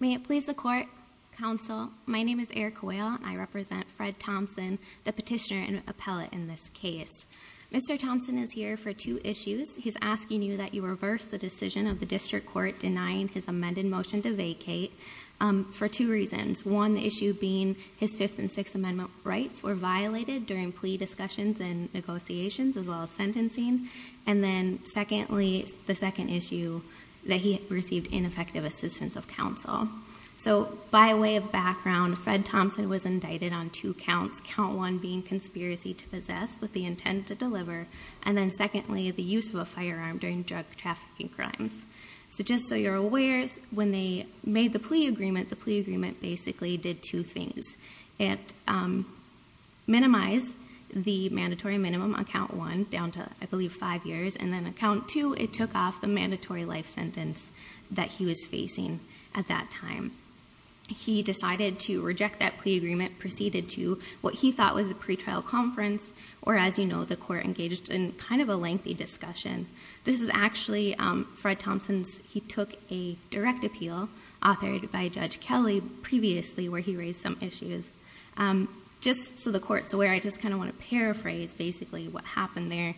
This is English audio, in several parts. May it please the court, counsel. My name is Erica Whale and I represent Fred Thompson, the petitioner and appellate in this case. Mr. Thompson is here for two issues. He's asking you that you reverse the decision of the district court denying his amended motion to vacate for two reasons. One issue being his 5th and 6th amendment rights were violated during plea discussions and negotiations as well as sentencing. And then secondly, the second issue that he received ineffective assistance of counsel. So by way of background, Fred Thompson was indicted on two counts, count one being conspiracy to possess with the intent to deliver. And then secondly, the use of a firearm during drug trafficking crimes. So just so you're aware, when they made the plea agreement, the plea agreement basically did two things. It minimized the mandatory minimum on count one down to, I believe, five years. And then on count two, it took off the mandatory life sentence that he was facing at that time. He decided to reject that plea agreement, proceeded to what he thought was a pretrial conference. Or as you know, the court engaged in kind of a lengthy discussion. This is actually Fred Thompson's, he took a direct appeal authored by Judge Kelly previously where he raised some issues. Just so the court's aware, I just kind of want to paraphrase basically what happened there.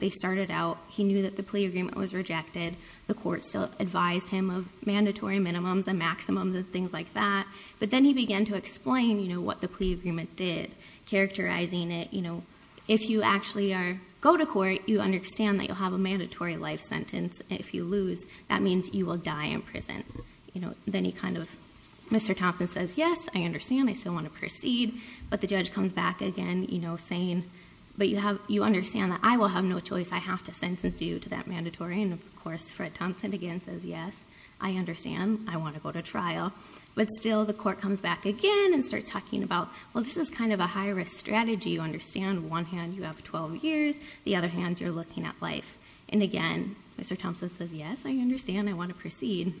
They started out, he knew that the plea agreement was rejected. The court still advised him of mandatory minimums and maximums and things like that. But then he began to explain what the plea agreement did, characterizing it. If you actually go to court, you understand that you'll have a mandatory life sentence if you lose. That means you will die in prison. Then he kind of, Mr. Thompson says, yes, I understand. I still want to proceed. But the judge comes back again saying, but you understand that I will have no choice. I have to sentence you to that mandatory. And of course, Fred Thompson again says, yes, I understand. I want to go to trial. But still, the court comes back again and starts talking about, well, this is kind of a high-risk strategy, you understand. One hand, you have 12 years. The other hand, you're looking at life. And again, Mr. Thompson says, yes, I understand. I want to proceed.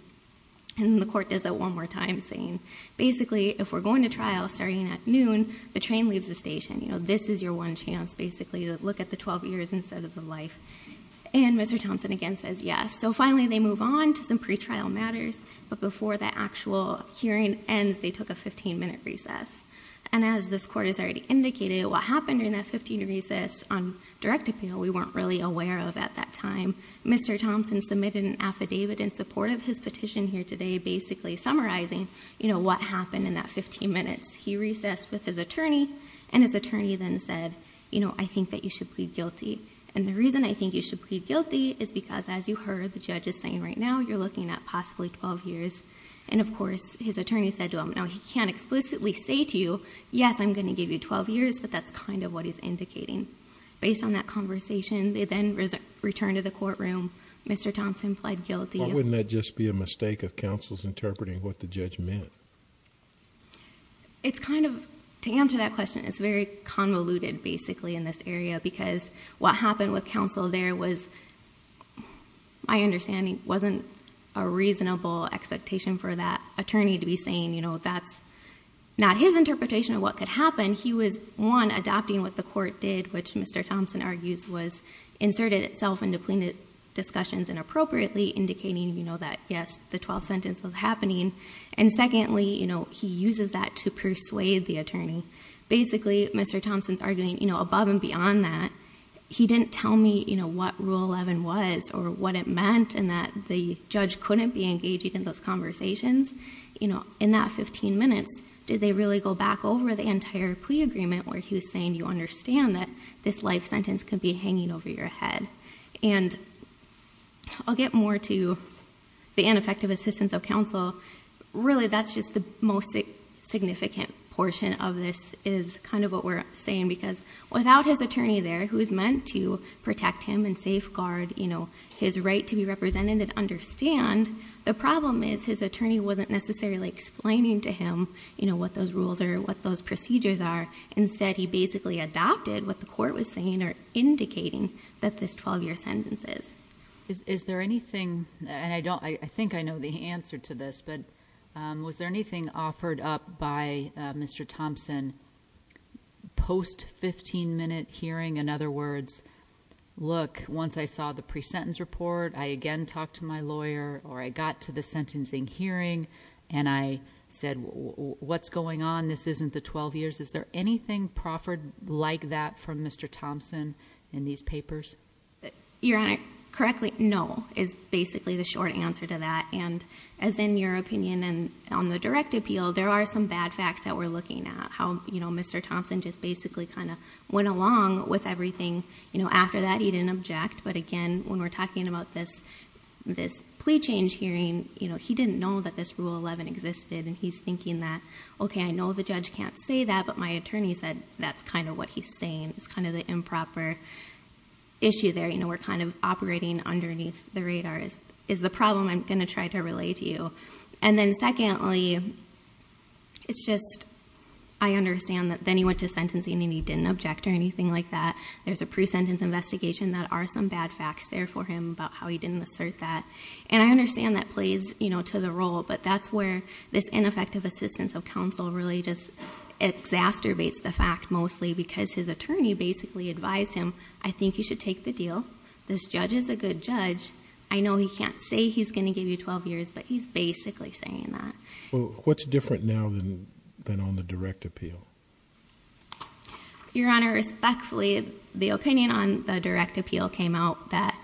And the court does that one more time saying, basically, if we're going to trial starting at noon, the train leaves the station. This is your one chance, basically, to look at the 12 years instead of the life. And Mr. Thompson again says, yes. So finally, they move on to some pretrial matters. But before the actual hearing ends, they took a 15-minute recess. And as this court has already indicated, what happened in that 15 recess on direct appeal, we weren't really aware of at that time. Mr. Thompson submitted an affidavit in support of his petition here today, basically summarizing what happened in that 15 minutes. He recessed with his attorney. And his attorney then said, I think that you should plead guilty. And the reason I think you should plead guilty is because, as you heard the judge is saying right now, you're looking at possibly 12 years. And of course, his attorney said to him, no, he can't explicitly say to you, yes, I'm going to give you 12 years. But that's kind of what he's indicating. Based on that conversation, they then returned to the courtroom. Mr. Thompson pled guilty. Why wouldn't that just be a mistake of counsel's interpreting what the judge meant? It's kind of, to answer that question, it's very convoluted, basically, in this area. Because what happened with counsel there was, my understanding, wasn't a reasonable expectation for that attorney to be saying, you know, that's not his interpretation of what could happen. He was, one, adopting what the court did, which Mr. Thompson argues was inserted itself into plaintiff discussions inappropriately, indicating, you know, that, yes, the 12th sentence was happening. And secondly, you know, he uses that to persuade the attorney. Basically, Mr. Thompson's arguing, you know, above and beyond that, he didn't tell me, you know, what Rule 11 was or what it meant, and that the judge couldn't be engaging in those conversations. You know, in that 15 minutes, did they really go back over the entire plea agreement where he was saying, you understand that this life sentence could be hanging over your head? And I'll get more to the ineffective assistance of counsel. Really, that's just the most significant portion of this, is kind of what we're saying. Because without his attorney there, who's meant to protect him and safeguard, you know, his right to be represented and understand, the problem is his attorney wasn't necessarily explaining to him, you know, what those rules are, what those procedures are. Instead, he basically adopted what the court was saying or indicating that this 12-year sentence is. Is there anything, and I think I know the answer to this, but was there anything offered up by Mr. Thompson post-15-minute hearing? In other words, look, once I saw the pre-sentence report, I again talked to my lawyer, or I got to the sentencing hearing, and I said, what's going on? This isn't the 12 years. Is there anything proffered like that from Mr. Thompson in these papers? Your Honor, correctly, no, is basically the short answer to that. And as in your opinion and on the direct appeal, there are some bad facts that we're looking at, how, you know, Mr. Thompson just basically kind of went along with everything. You know, after that, he didn't object. But again, when we're talking about this plea change hearing, you know, he didn't know that this Rule 11 existed. And he's thinking that, okay, I know the judge can't say that, but my attorney said that's kind of what he's saying. It's kind of the improper issue there. You know, we're kind of operating underneath the radar is the problem I'm going to try to relay to you. And then secondly, it's just I understand that then he went to sentencing and he didn't object or anything like that. There's a pre-sentence investigation that are some bad facts there for him about how he didn't assert that. And I understand that plays, you know, to the role. But that's where this ineffective assistance of counsel really just exacerbates the fact mostly because his attorney basically advised him, I think you should take the deal. This judge is a good judge. I know he can't say he's going to give you 12 years, but he's basically saying that. Well, what's different now than on the direct appeal? Your Honor, respectfully, the opinion on the direct appeal came out that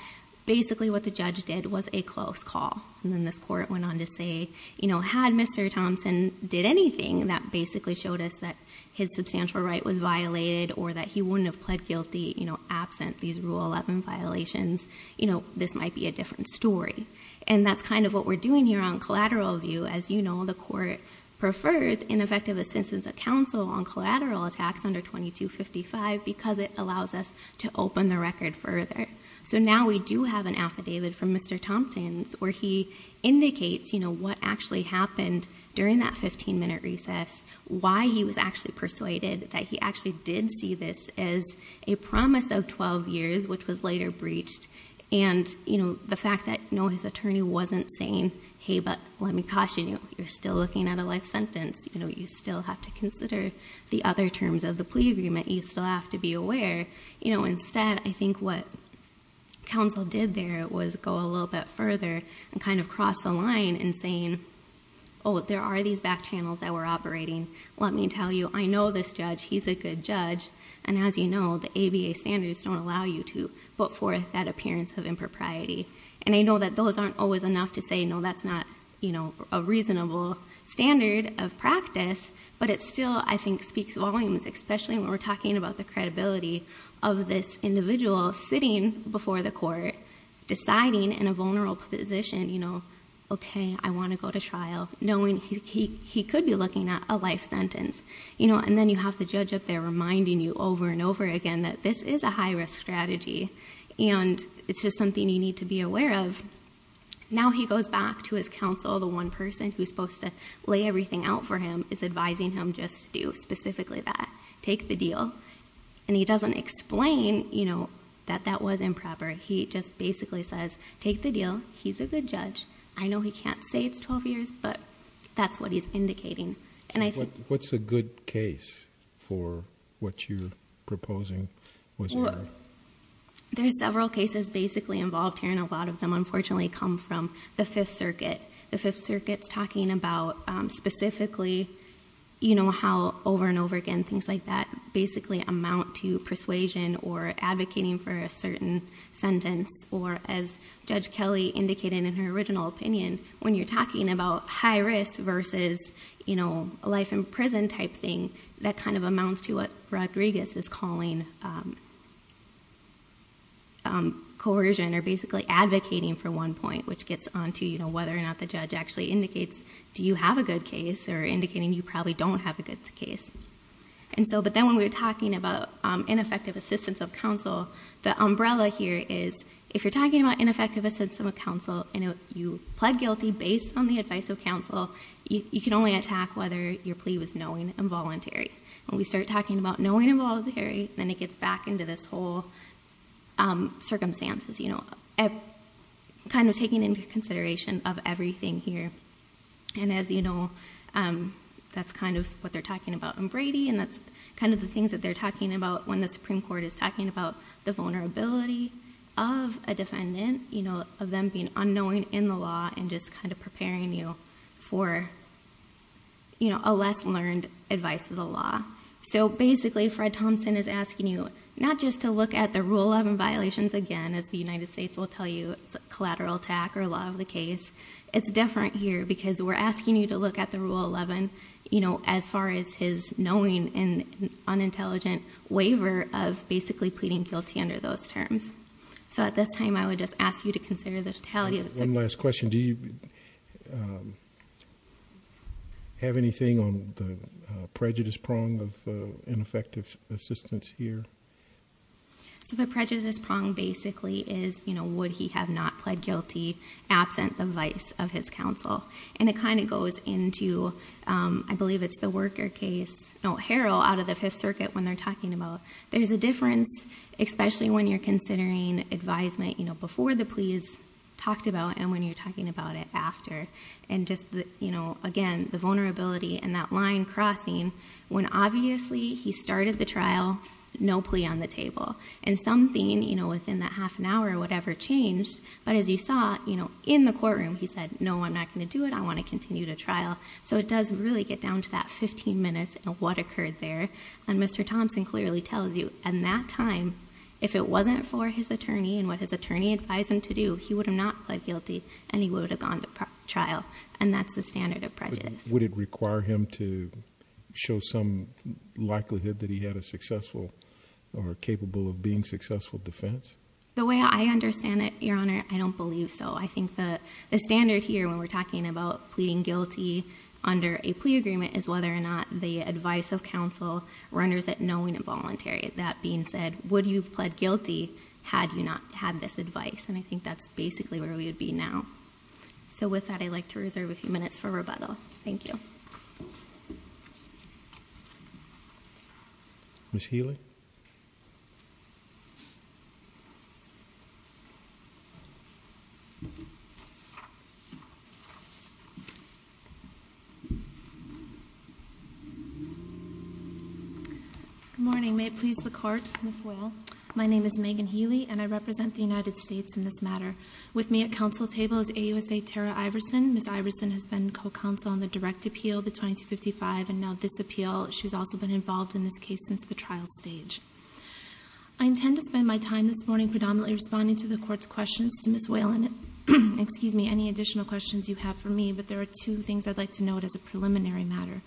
basically what the judge did was a close call. And then this court went on to say, you know, had Mr. Thompson did anything that basically showed us that his substantial right was violated or that he wouldn't have pled guilty, you know, absent these Rule 11 violations, you know, this might be a different story. And that's kind of what we're doing here on collateral view. As you know, the court prefers ineffective assistance of counsel on collateral attacks under 2255 because it allows us to open the record further. So now we do have an affidavit from Mr. Thompson's where he indicates, you know, what actually happened during that 15-minute recess, why he was actually persuaded that he actually did see this as a promise of 12 years, which was later breached. And, you know, the fact that, no, his attorney wasn't saying, hey, but let me caution you, you're still looking at a life sentence. You know, you still have to consider the other terms of the plea agreement. You still have to be aware. You know, instead, I think what counsel did there was go a little bit further and kind of cross the line in saying, oh, there are these back channels that we're operating. Let me tell you, I know this judge. He's a good judge. And as you know, the ABA standards don't allow you to put forth that appearance of impropriety. And I know that those aren't always enough to say, no, that's not, you know, a reasonable standard of practice. But it still, I think, speaks volumes, especially when we're talking about the credibility of this individual sitting before the court, deciding in a vulnerable position, you know, okay, I want to go to trial, knowing he could be looking at a life sentence. You know, and then you have the judge up there reminding you over and over again that this is a high-risk strategy, and it's just something you need to be aware of. Now he goes back to his counsel. The one person who's supposed to lay everything out for him is advising him just to do specifically that, take the deal. And he doesn't explain, you know, that that was improper. He just basically says, take the deal. He's a good judge. I know he can't say it's 12 years, but that's what he's indicating. And I think- What's a good case for what you're proposing was heard? Well, there's several cases basically involved here, and a lot of them, unfortunately, come from the Fifth Circuit. The Fifth Circuit's talking about specifically, you know, how over and over again things like that basically amount to persuasion or advocating for a certain sentence. Or as Judge Kelly indicated in her original opinion, when you're talking about high risk versus, you know, a life in prison type thing, that kind of amounts to what Rodriguez is calling coercion or basically advocating for one point, which gets onto, you know, whether or not the judge actually indicates do you have a good case or indicating you probably don't have a good case. And so, but then when we were talking about ineffective assistance of counsel, the umbrella here is if you're talking about ineffective assistance of counsel and you plead guilty based on the advice of counsel, you can only attack whether your plea was knowing and voluntary. When we start talking about knowing and voluntary, then it gets back into this whole circumstances, you know, kind of taking into consideration of everything here. And as you know, that's kind of what they're talking about in Brady and that's kind of the things that they're talking about when the Supreme Court is talking about the vulnerability of a defendant, you know, of them being unknowing in the law and just kind of preparing you for, you know, a less learned advice of the law. So basically, Fred Thompson is asking you not just to look at the Rule 11 violations again, as the United States will tell you it's a collateral attack or a lot of the case. It's different here because we're asking you to look at the Rule 11, you know, as far as his knowing and unintelligent waiver of basically pleading guilty under those terms. So at this time, I would just ask you to consider the totality of it. One last question. Do you have anything on the prejudice prong of ineffective assistance here? So the prejudice prong basically is, you know, would he have not pled guilty absent the vice of his counsel? And it kind of goes into, I believe it's the worker case, no, Harrell out of the Fifth Circuit when they're talking about there's a difference, especially when you're considering advisement, you know, before the pleas talked about and when you're talking about it after. And just, you know, again, the vulnerability and that line crossing when obviously he started the trial, no plea on the table. And something, you know, within that half an hour or whatever changed. But as you saw, you know, in the courtroom he said, no, I'm not going to do it. I want to continue the trial. So it does really get down to that 15 minutes and what occurred there. And Mr. Thompson clearly tells you at that time if it wasn't for his attorney and what his attorney advised him to do, he would have not pled guilty and he would have gone to trial. And that's the standard of prejudice. Would it require him to show some likelihood that he had a successful or capable of being successful defense? The way I understand it, Your Honor, I don't believe so. I think the standard here when we're talking about pleading guilty under a plea agreement is whether or not the advice of counsel renders it knowing and voluntary. That being said, would you have pled guilty had you not had this advice? And I think that's basically where we would be now. So with that, I'd like to reserve a few minutes for rebuttal. Thank you. Ms. Healy. Good morning. May it please the Court, Ms. Will. My name is Megan Healy and I represent the United States in this matter. With me at counsel's table is AUSA Tara Iverson. Ms. Iverson has been co-counsel on the direct appeal, the 2255, and now this appeal. She's also been involved in this case since the trial stage. I intend to spend my time this morning predominantly responding to the Court's questions. To Ms. Whalen, excuse me, any additional questions you have for me, but there are two things I'd like to note as a preliminary matter.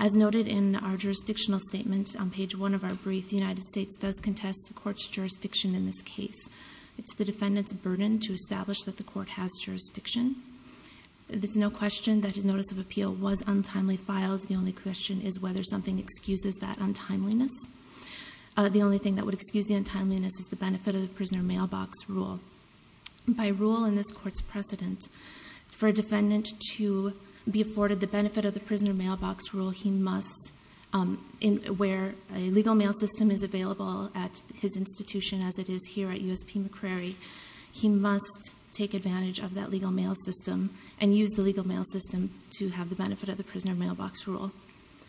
As noted in our jurisdictional statement on page 1 of our brief, the United States does contest the Court's jurisdiction in this case. It's the defendant's burden to establish that the Court has jurisdiction. There's no question that his notice of appeal was untimely filed. The only question is whether something excuses that untimeliness. The only thing that would excuse the untimeliness is the benefit of the prisoner mailbox rule. By rule in this Court's precedent, for a defendant to be afforded the benefit of the prisoner mailbox rule, where a legal mail system is available at his institution as it is here at USP McCrary, he must take advantage of that legal mail system and use the legal mail system to have the benefit of the prisoner mailbox rule.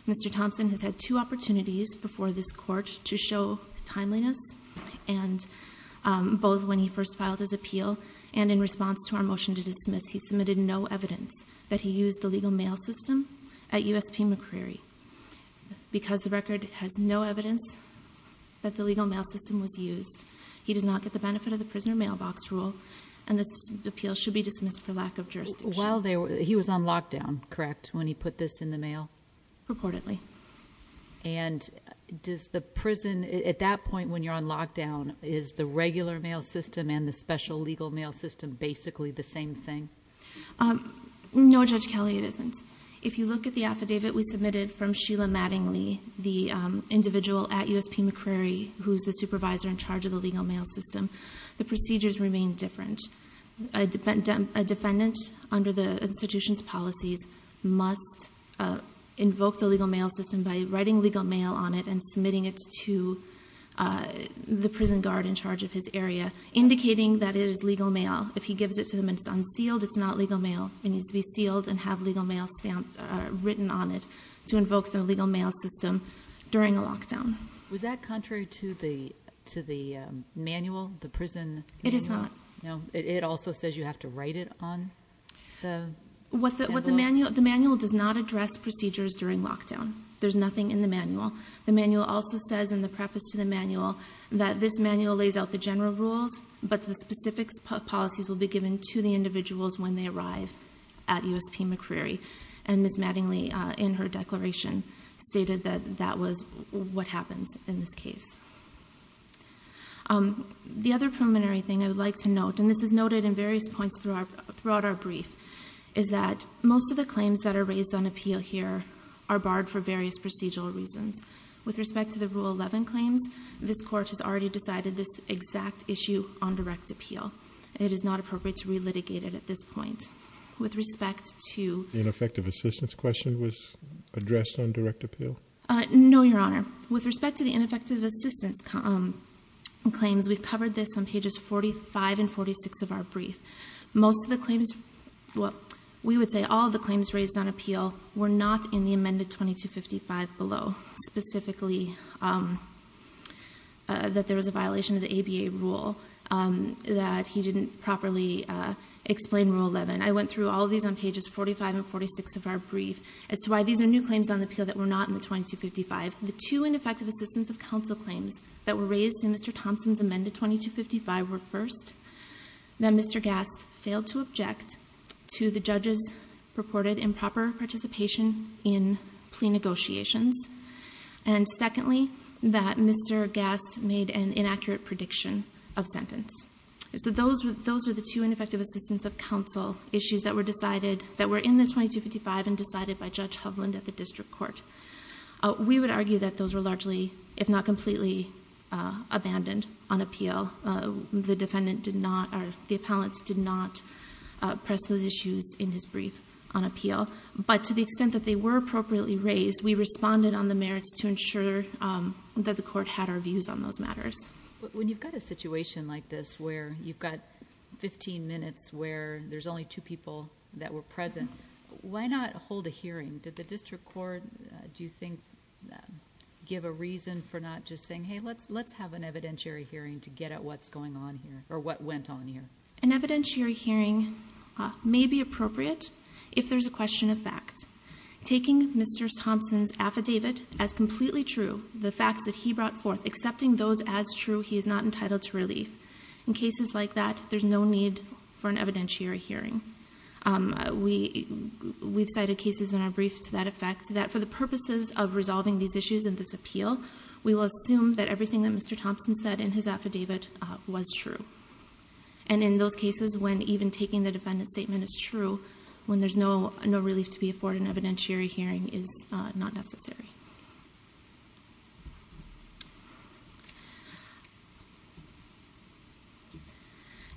Mr. Thompson has had two opportunities before this Court to show timeliness, both when he first filed his appeal and in response to our motion to dismiss. He submitted no evidence that he used the legal mail system at USP McCrary. Because the record has no evidence that the legal mail system was used, he does not get the benefit of the prisoner mailbox rule, and this appeal should be dismissed for lack of jurisdiction. He was on lockdown, correct, when he put this in the mail? Reportedly. And at that point when you're on lockdown, is the regular mail system and the special legal mail system basically the same thing? No, Judge Kelly, it isn't. If you look at the affidavit we submitted from Sheila Mattingly, the individual at USP McCrary who's the supervisor in charge of the legal mail system, the procedures remain different. A defendant under the institution's policies must invoke the legal mail system by writing legal mail on it and submitting it to the prison guard in charge of his area, indicating that it is legal mail. If he gives it to them and it's unsealed, it's not legal mail. It needs to be sealed and have legal mail stamped or written on it to invoke the legal mail system during a lockdown. Was that contrary to the manual, the prison manual? It is not. No? It also says you have to write it on the envelope? The manual does not address procedures during lockdown. There's nothing in the manual. The manual also says in the preface to the manual that this manual lays out the general rules, but the specific policies will be given to the individuals when they arrive at USP McCrary, and Ms. Mattingly in her declaration stated that that was what happens in this case. The other preliminary thing I would like to note, and this is noted in various points throughout our brief, is that most of the claims that are raised on appeal here are barred for various procedural reasons. With respect to the Rule 11 claims, this Court has already decided this exact issue on direct appeal. It is not appropriate to relitigate it at this point. With respect to— The ineffective assistance question was addressed on direct appeal? No, Your Honor. With respect to the ineffective assistance claims, we've covered this on pages 45 and 46 of our brief. Most of the claims—we would say all of the claims raised on appeal were not in the amended 2255 below, specifically that there was a violation of the ABA rule, that he didn't properly explain Rule 11. I went through all of these on pages 45 and 46 of our brief. As to why these are new claims on appeal that were not in the 2255, the two ineffective assistance of counsel claims that were raised in Mr. Thompson's amended 2255 were first. That Mr. Gass failed to object to the judge's purported improper participation in plea negotiations. And secondly, that Mr. Gass made an inaccurate prediction of sentence. So those are the two ineffective assistance of counsel issues that were decided— that were in the 2255 and decided by Judge Hovland at the District Court. We would argue that those were largely, if not completely, abandoned on appeal. The defendant did not—the appellant did not press those issues in his brief on appeal. But to the extent that they were appropriately raised, we responded on the merits to ensure that the court had our views on those matters. When you've got a situation like this where you've got 15 minutes where there's only two people that were present, why not hold a hearing? Did the District Court, do you think, give a reason for not just saying, hey, let's have an evidentiary hearing to get at what's going on here, or what went on here? An evidentiary hearing may be appropriate if there's a question of fact. Taking Mr. Thompson's affidavit as completely true, the facts that he brought forth, accepting those as true, he is not entitled to relief. In cases like that, there's no need for an evidentiary hearing. We've cited cases in our briefs to that effect, that for the purposes of resolving these issues in this appeal, we will assume that everything that Mr. Thompson said in his affidavit was true. And in those cases, when even taking the defendant's statement is true, when there's no relief to be afforded, an evidentiary hearing is not necessary.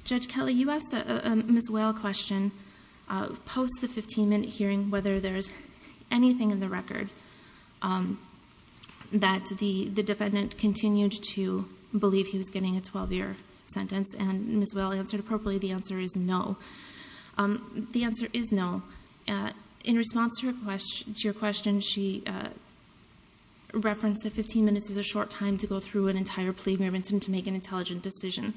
Judge Kelly, you asked a Ms. Whale question. Post the 15-minute hearing, whether there's anything in the record that the defendant continued to believe he was getting a 12-year sentence, and Ms. Whale answered appropriately, the answer is no. The answer is no. In response to your question, she said, reference that 15 minutes is a short time to go through an entire plea agreement and to make an intelligent decision.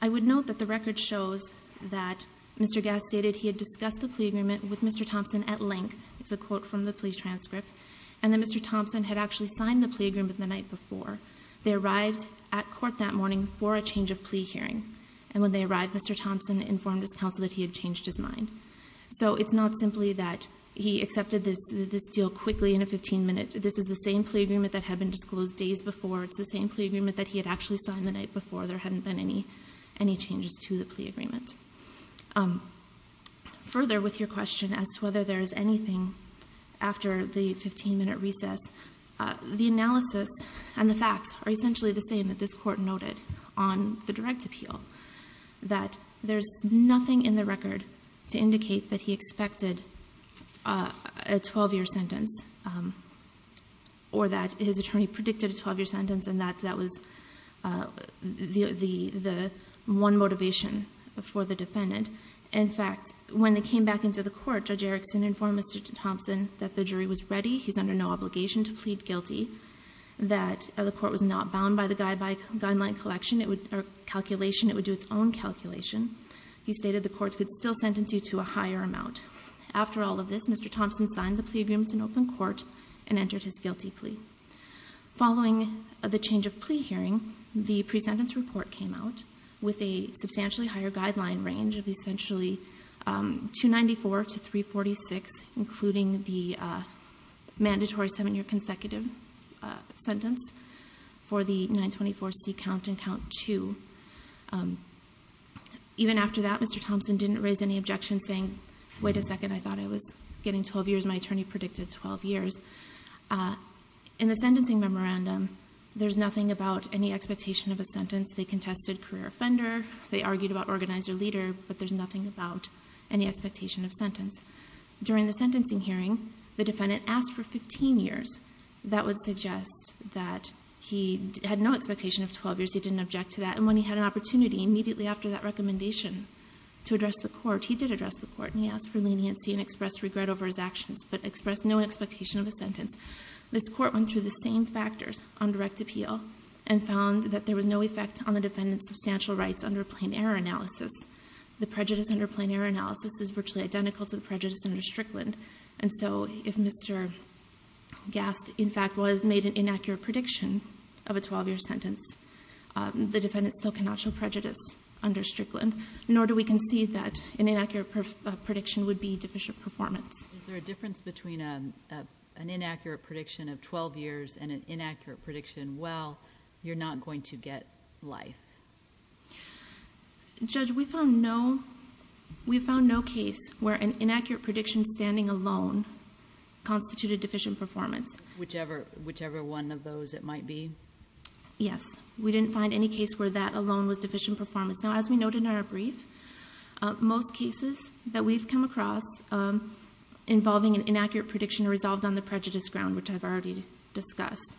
I would note that the record shows that Mr. Gass stated he had discussed the plea agreement with Mr. Thompson at length. It's a quote from the plea transcript. And that Mr. Thompson had actually signed the plea agreement the night before. They arrived at court that morning for a change of plea hearing. And when they arrived, Mr. Thompson informed his counsel that he had changed his mind. So it's not simply that he accepted this deal quickly in a 15-minute. This is the same plea agreement that had been disclosed days before. It's the same plea agreement that he had actually signed the night before. There hadn't been any changes to the plea agreement. Further, with your question as to whether there is anything after the 15-minute recess, the analysis and the facts are essentially the same that this Court noted on the direct appeal, that there's nothing in the record to indicate that he expected a 12-year sentence or that his attorney predicted a 12-year sentence and that that was the one motivation for the defendant. In fact, when they came back into the court, Judge Erickson informed Mr. Thompson that the jury was ready. He's under no obligation to plead guilty. That the court was not bound by the guideline collection or calculation. It would do its own calculation. He stated the court could still sentence you to a higher amount. After all of this, Mr. Thompson signed the plea agreement in open court and entered his guilty plea. Following the change of plea hearing, the pre-sentence report came out with a substantially higher guideline range of essentially 294 to 346, including the mandatory 7-year consecutive sentence for the 924C count and count 2. Even after that, Mr. Thompson didn't raise any objections, saying, wait a second, I thought I was getting 12 years. My attorney predicted 12 years. In the sentencing memorandum, there's nothing about any expectation of a sentence. They contested career offender. They argued about organizer leader. But there's nothing about any expectation of sentence. During the sentencing hearing, the defendant asked for 15 years. That would suggest that he had no expectation of 12 years. He didn't object to that. And when he had an opportunity immediately after that recommendation to address the court, he did address the court. And he asked for leniency and expressed regret over his actions, but expressed no expectation of a sentence. This Court went through the same factors on direct appeal and found that there was no effect on the defendant's substantial rights under plain error analysis. The prejudice under plain error analysis is virtually identical to the prejudice under Strickland. And so if Mr. Gast, in fact, was made an inaccurate prediction of a 12-year sentence, the defendant still cannot show prejudice under Strickland, nor do we concede that an inaccurate prediction would be deficient performance. Is there a difference between an inaccurate prediction of 12 years and an inaccurate prediction, well, you're not going to get life? Judge, we found no case where an inaccurate prediction standing alone constituted deficient performance. Whichever one of those it might be? Yes. We didn't find any case where that alone was deficient performance. Now, as we noted in our brief, most cases that we've come across involving an inaccurate prediction resolved on the prejudice ground, which I've already discussed,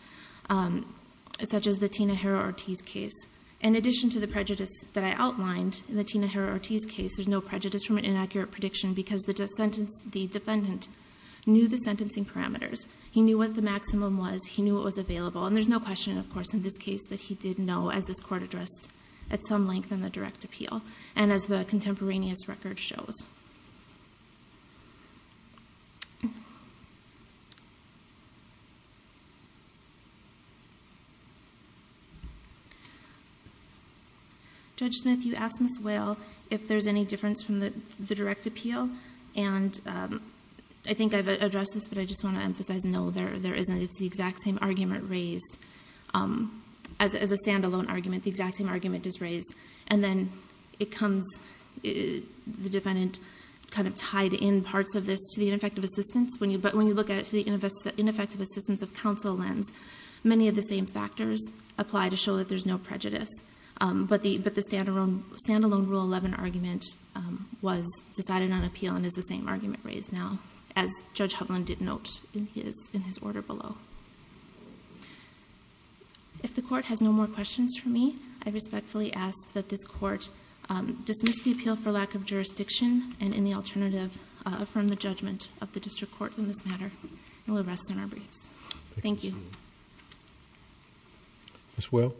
such as the Tina Herrera-Ortiz case. In addition to the prejudice that I outlined in the Tina Herrera-Ortiz case, there's no prejudice from an inaccurate prediction because the defendant knew the sentencing parameters. He knew what the maximum was. He knew what was available. And there's no question, of course, in this case that he did know, as this court addressed at some length in the direct appeal and as the contemporaneous record shows. Judge Smith, you asked Ms. Whale if there's any difference from the direct appeal. And I think I've addressed this, but I just want to emphasize, no, there isn't. It's the exact same argument raised. As a stand-alone argument, the exact same argument is raised. And the defendant knows what the maximum is. And I've kind of tied in parts of this to the ineffective assistance. But when you look at it through the ineffective assistance of counsel lens, many of the same factors apply to show that there's no prejudice. But the stand-alone Rule 11 argument was decided on appeal and is the same argument raised now, as Judge Hovland did note in his order below. If the court has no more questions for me, I respectfully ask that this court dismiss the appeal for lack of jurisdiction and in the alternative, affirm the judgment of the district court in this matter. And we'll rest on our briefs. Thank you. Ms. Whale?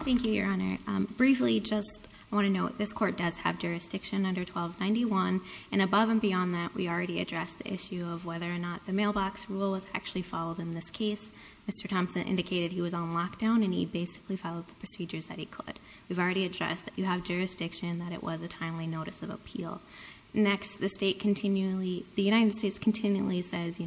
Thank you, Your Honor. Briefly, just I want to note, this court does have jurisdiction under 1291. And above and beyond that, we already addressed the issue of whether or not the mailbox rule was actually followed in this case. Mr. Thompson indicated he was on lockdown. And he basically followed the procedures that he could. We've already addressed that you have jurisdiction, that it was a timely notice of appeal. Next, the United States continually says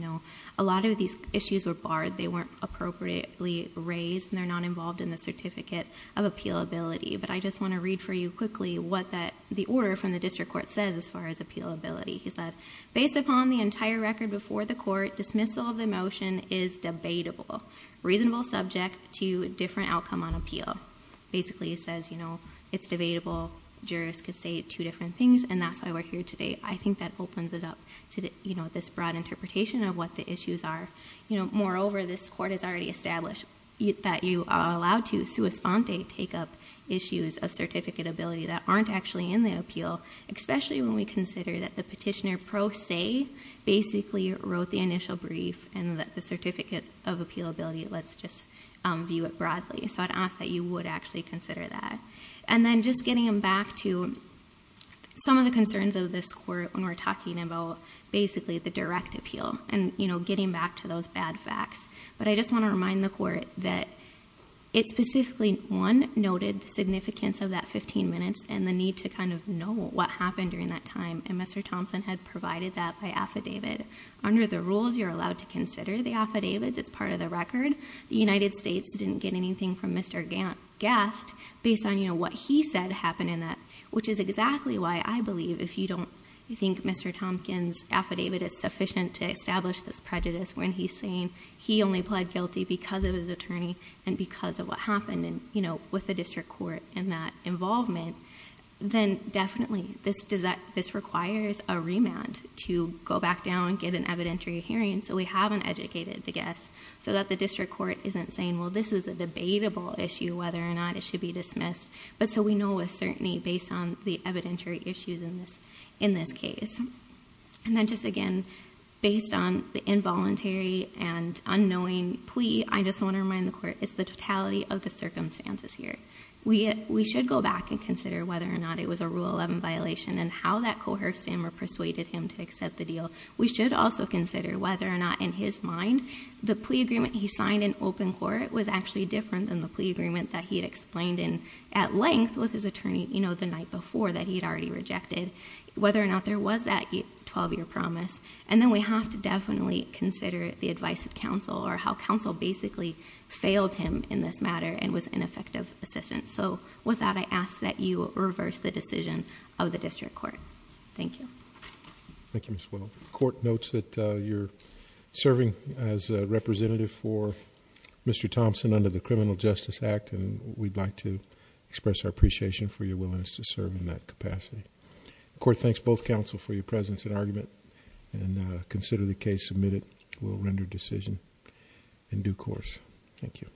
a lot of these issues were barred. They weren't appropriately raised. And they're not involved in the certificate of appealability. But I just want to read for you quickly what the order from the district court says as far as appealability. He said, based upon the entire record before the court, dismissal of the motion is debatable, reasonable subject to different outcome on appeal. Basically, it says it's debatable. Jurors could say two different things. And that's why we're here today. I think that opens it up to this broad interpretation of what the issues are. Moreover, this court has already established that you are allowed to sua sponte, take up issues of certificate ability that aren't actually in the appeal, especially when we consider that the petitioner pro se basically wrote the initial brief and the certificate of appealability. Let's just view it broadly. So I'd ask that you would actually consider that. And then just getting back to some of the concerns of this court when we're talking about basically the direct appeal and getting back to those bad facts. But I just want to remind the court that it specifically, one, noted the significance of that 15 minutes and the need to kind of know what happened during that time. And Mr. Thompson had provided that by affidavit. Under the rules, you're allowed to consider the affidavits as part of the record. The United States didn't get anything from Mr. Gast based on what he said happened in that, which is exactly why I believe if you don't think Mr. Thompkins' affidavit is sufficient to establish this prejudice when he's saying he only pled guilty because of his attorney and because of what happened with the district court in that involvement, then definitely this requires a remand to go back down and get an evidentiary hearing so we have an educated guess so that the district court isn't saying, well, this is a debatable issue whether or not it should be dismissed. But so we know with certainty based on the evidentiary issues in this case. And then just again, based on the involuntary and unknowing plea, I just want to remind the court it's the totality of the circumstances here. We should go back and consider whether or not it was a Rule 11 violation and how that coerced him or persuaded him to accept the deal. We should also consider whether or not in his mind the plea agreement he signed in open court was actually different than the plea agreement that he had explained in at length with his attorney the night before that he had already rejected, whether or not there was that 12-year promise. And then we have to definitely consider the advice of counsel or how counsel basically failed him in this matter and was ineffective assistance. So with that, I ask that you reverse the decision of the district court. Thank you. Thank you, Ms. Willow. The court notes that you're serving as a representative for Mr. Thompson under the Criminal Justice Act and we'd like to express our appreciation for your willingness to serve in that capacity. The court thanks both counsel for your presence and argument and consider the case submitted. We'll render decision in due course. Thank you.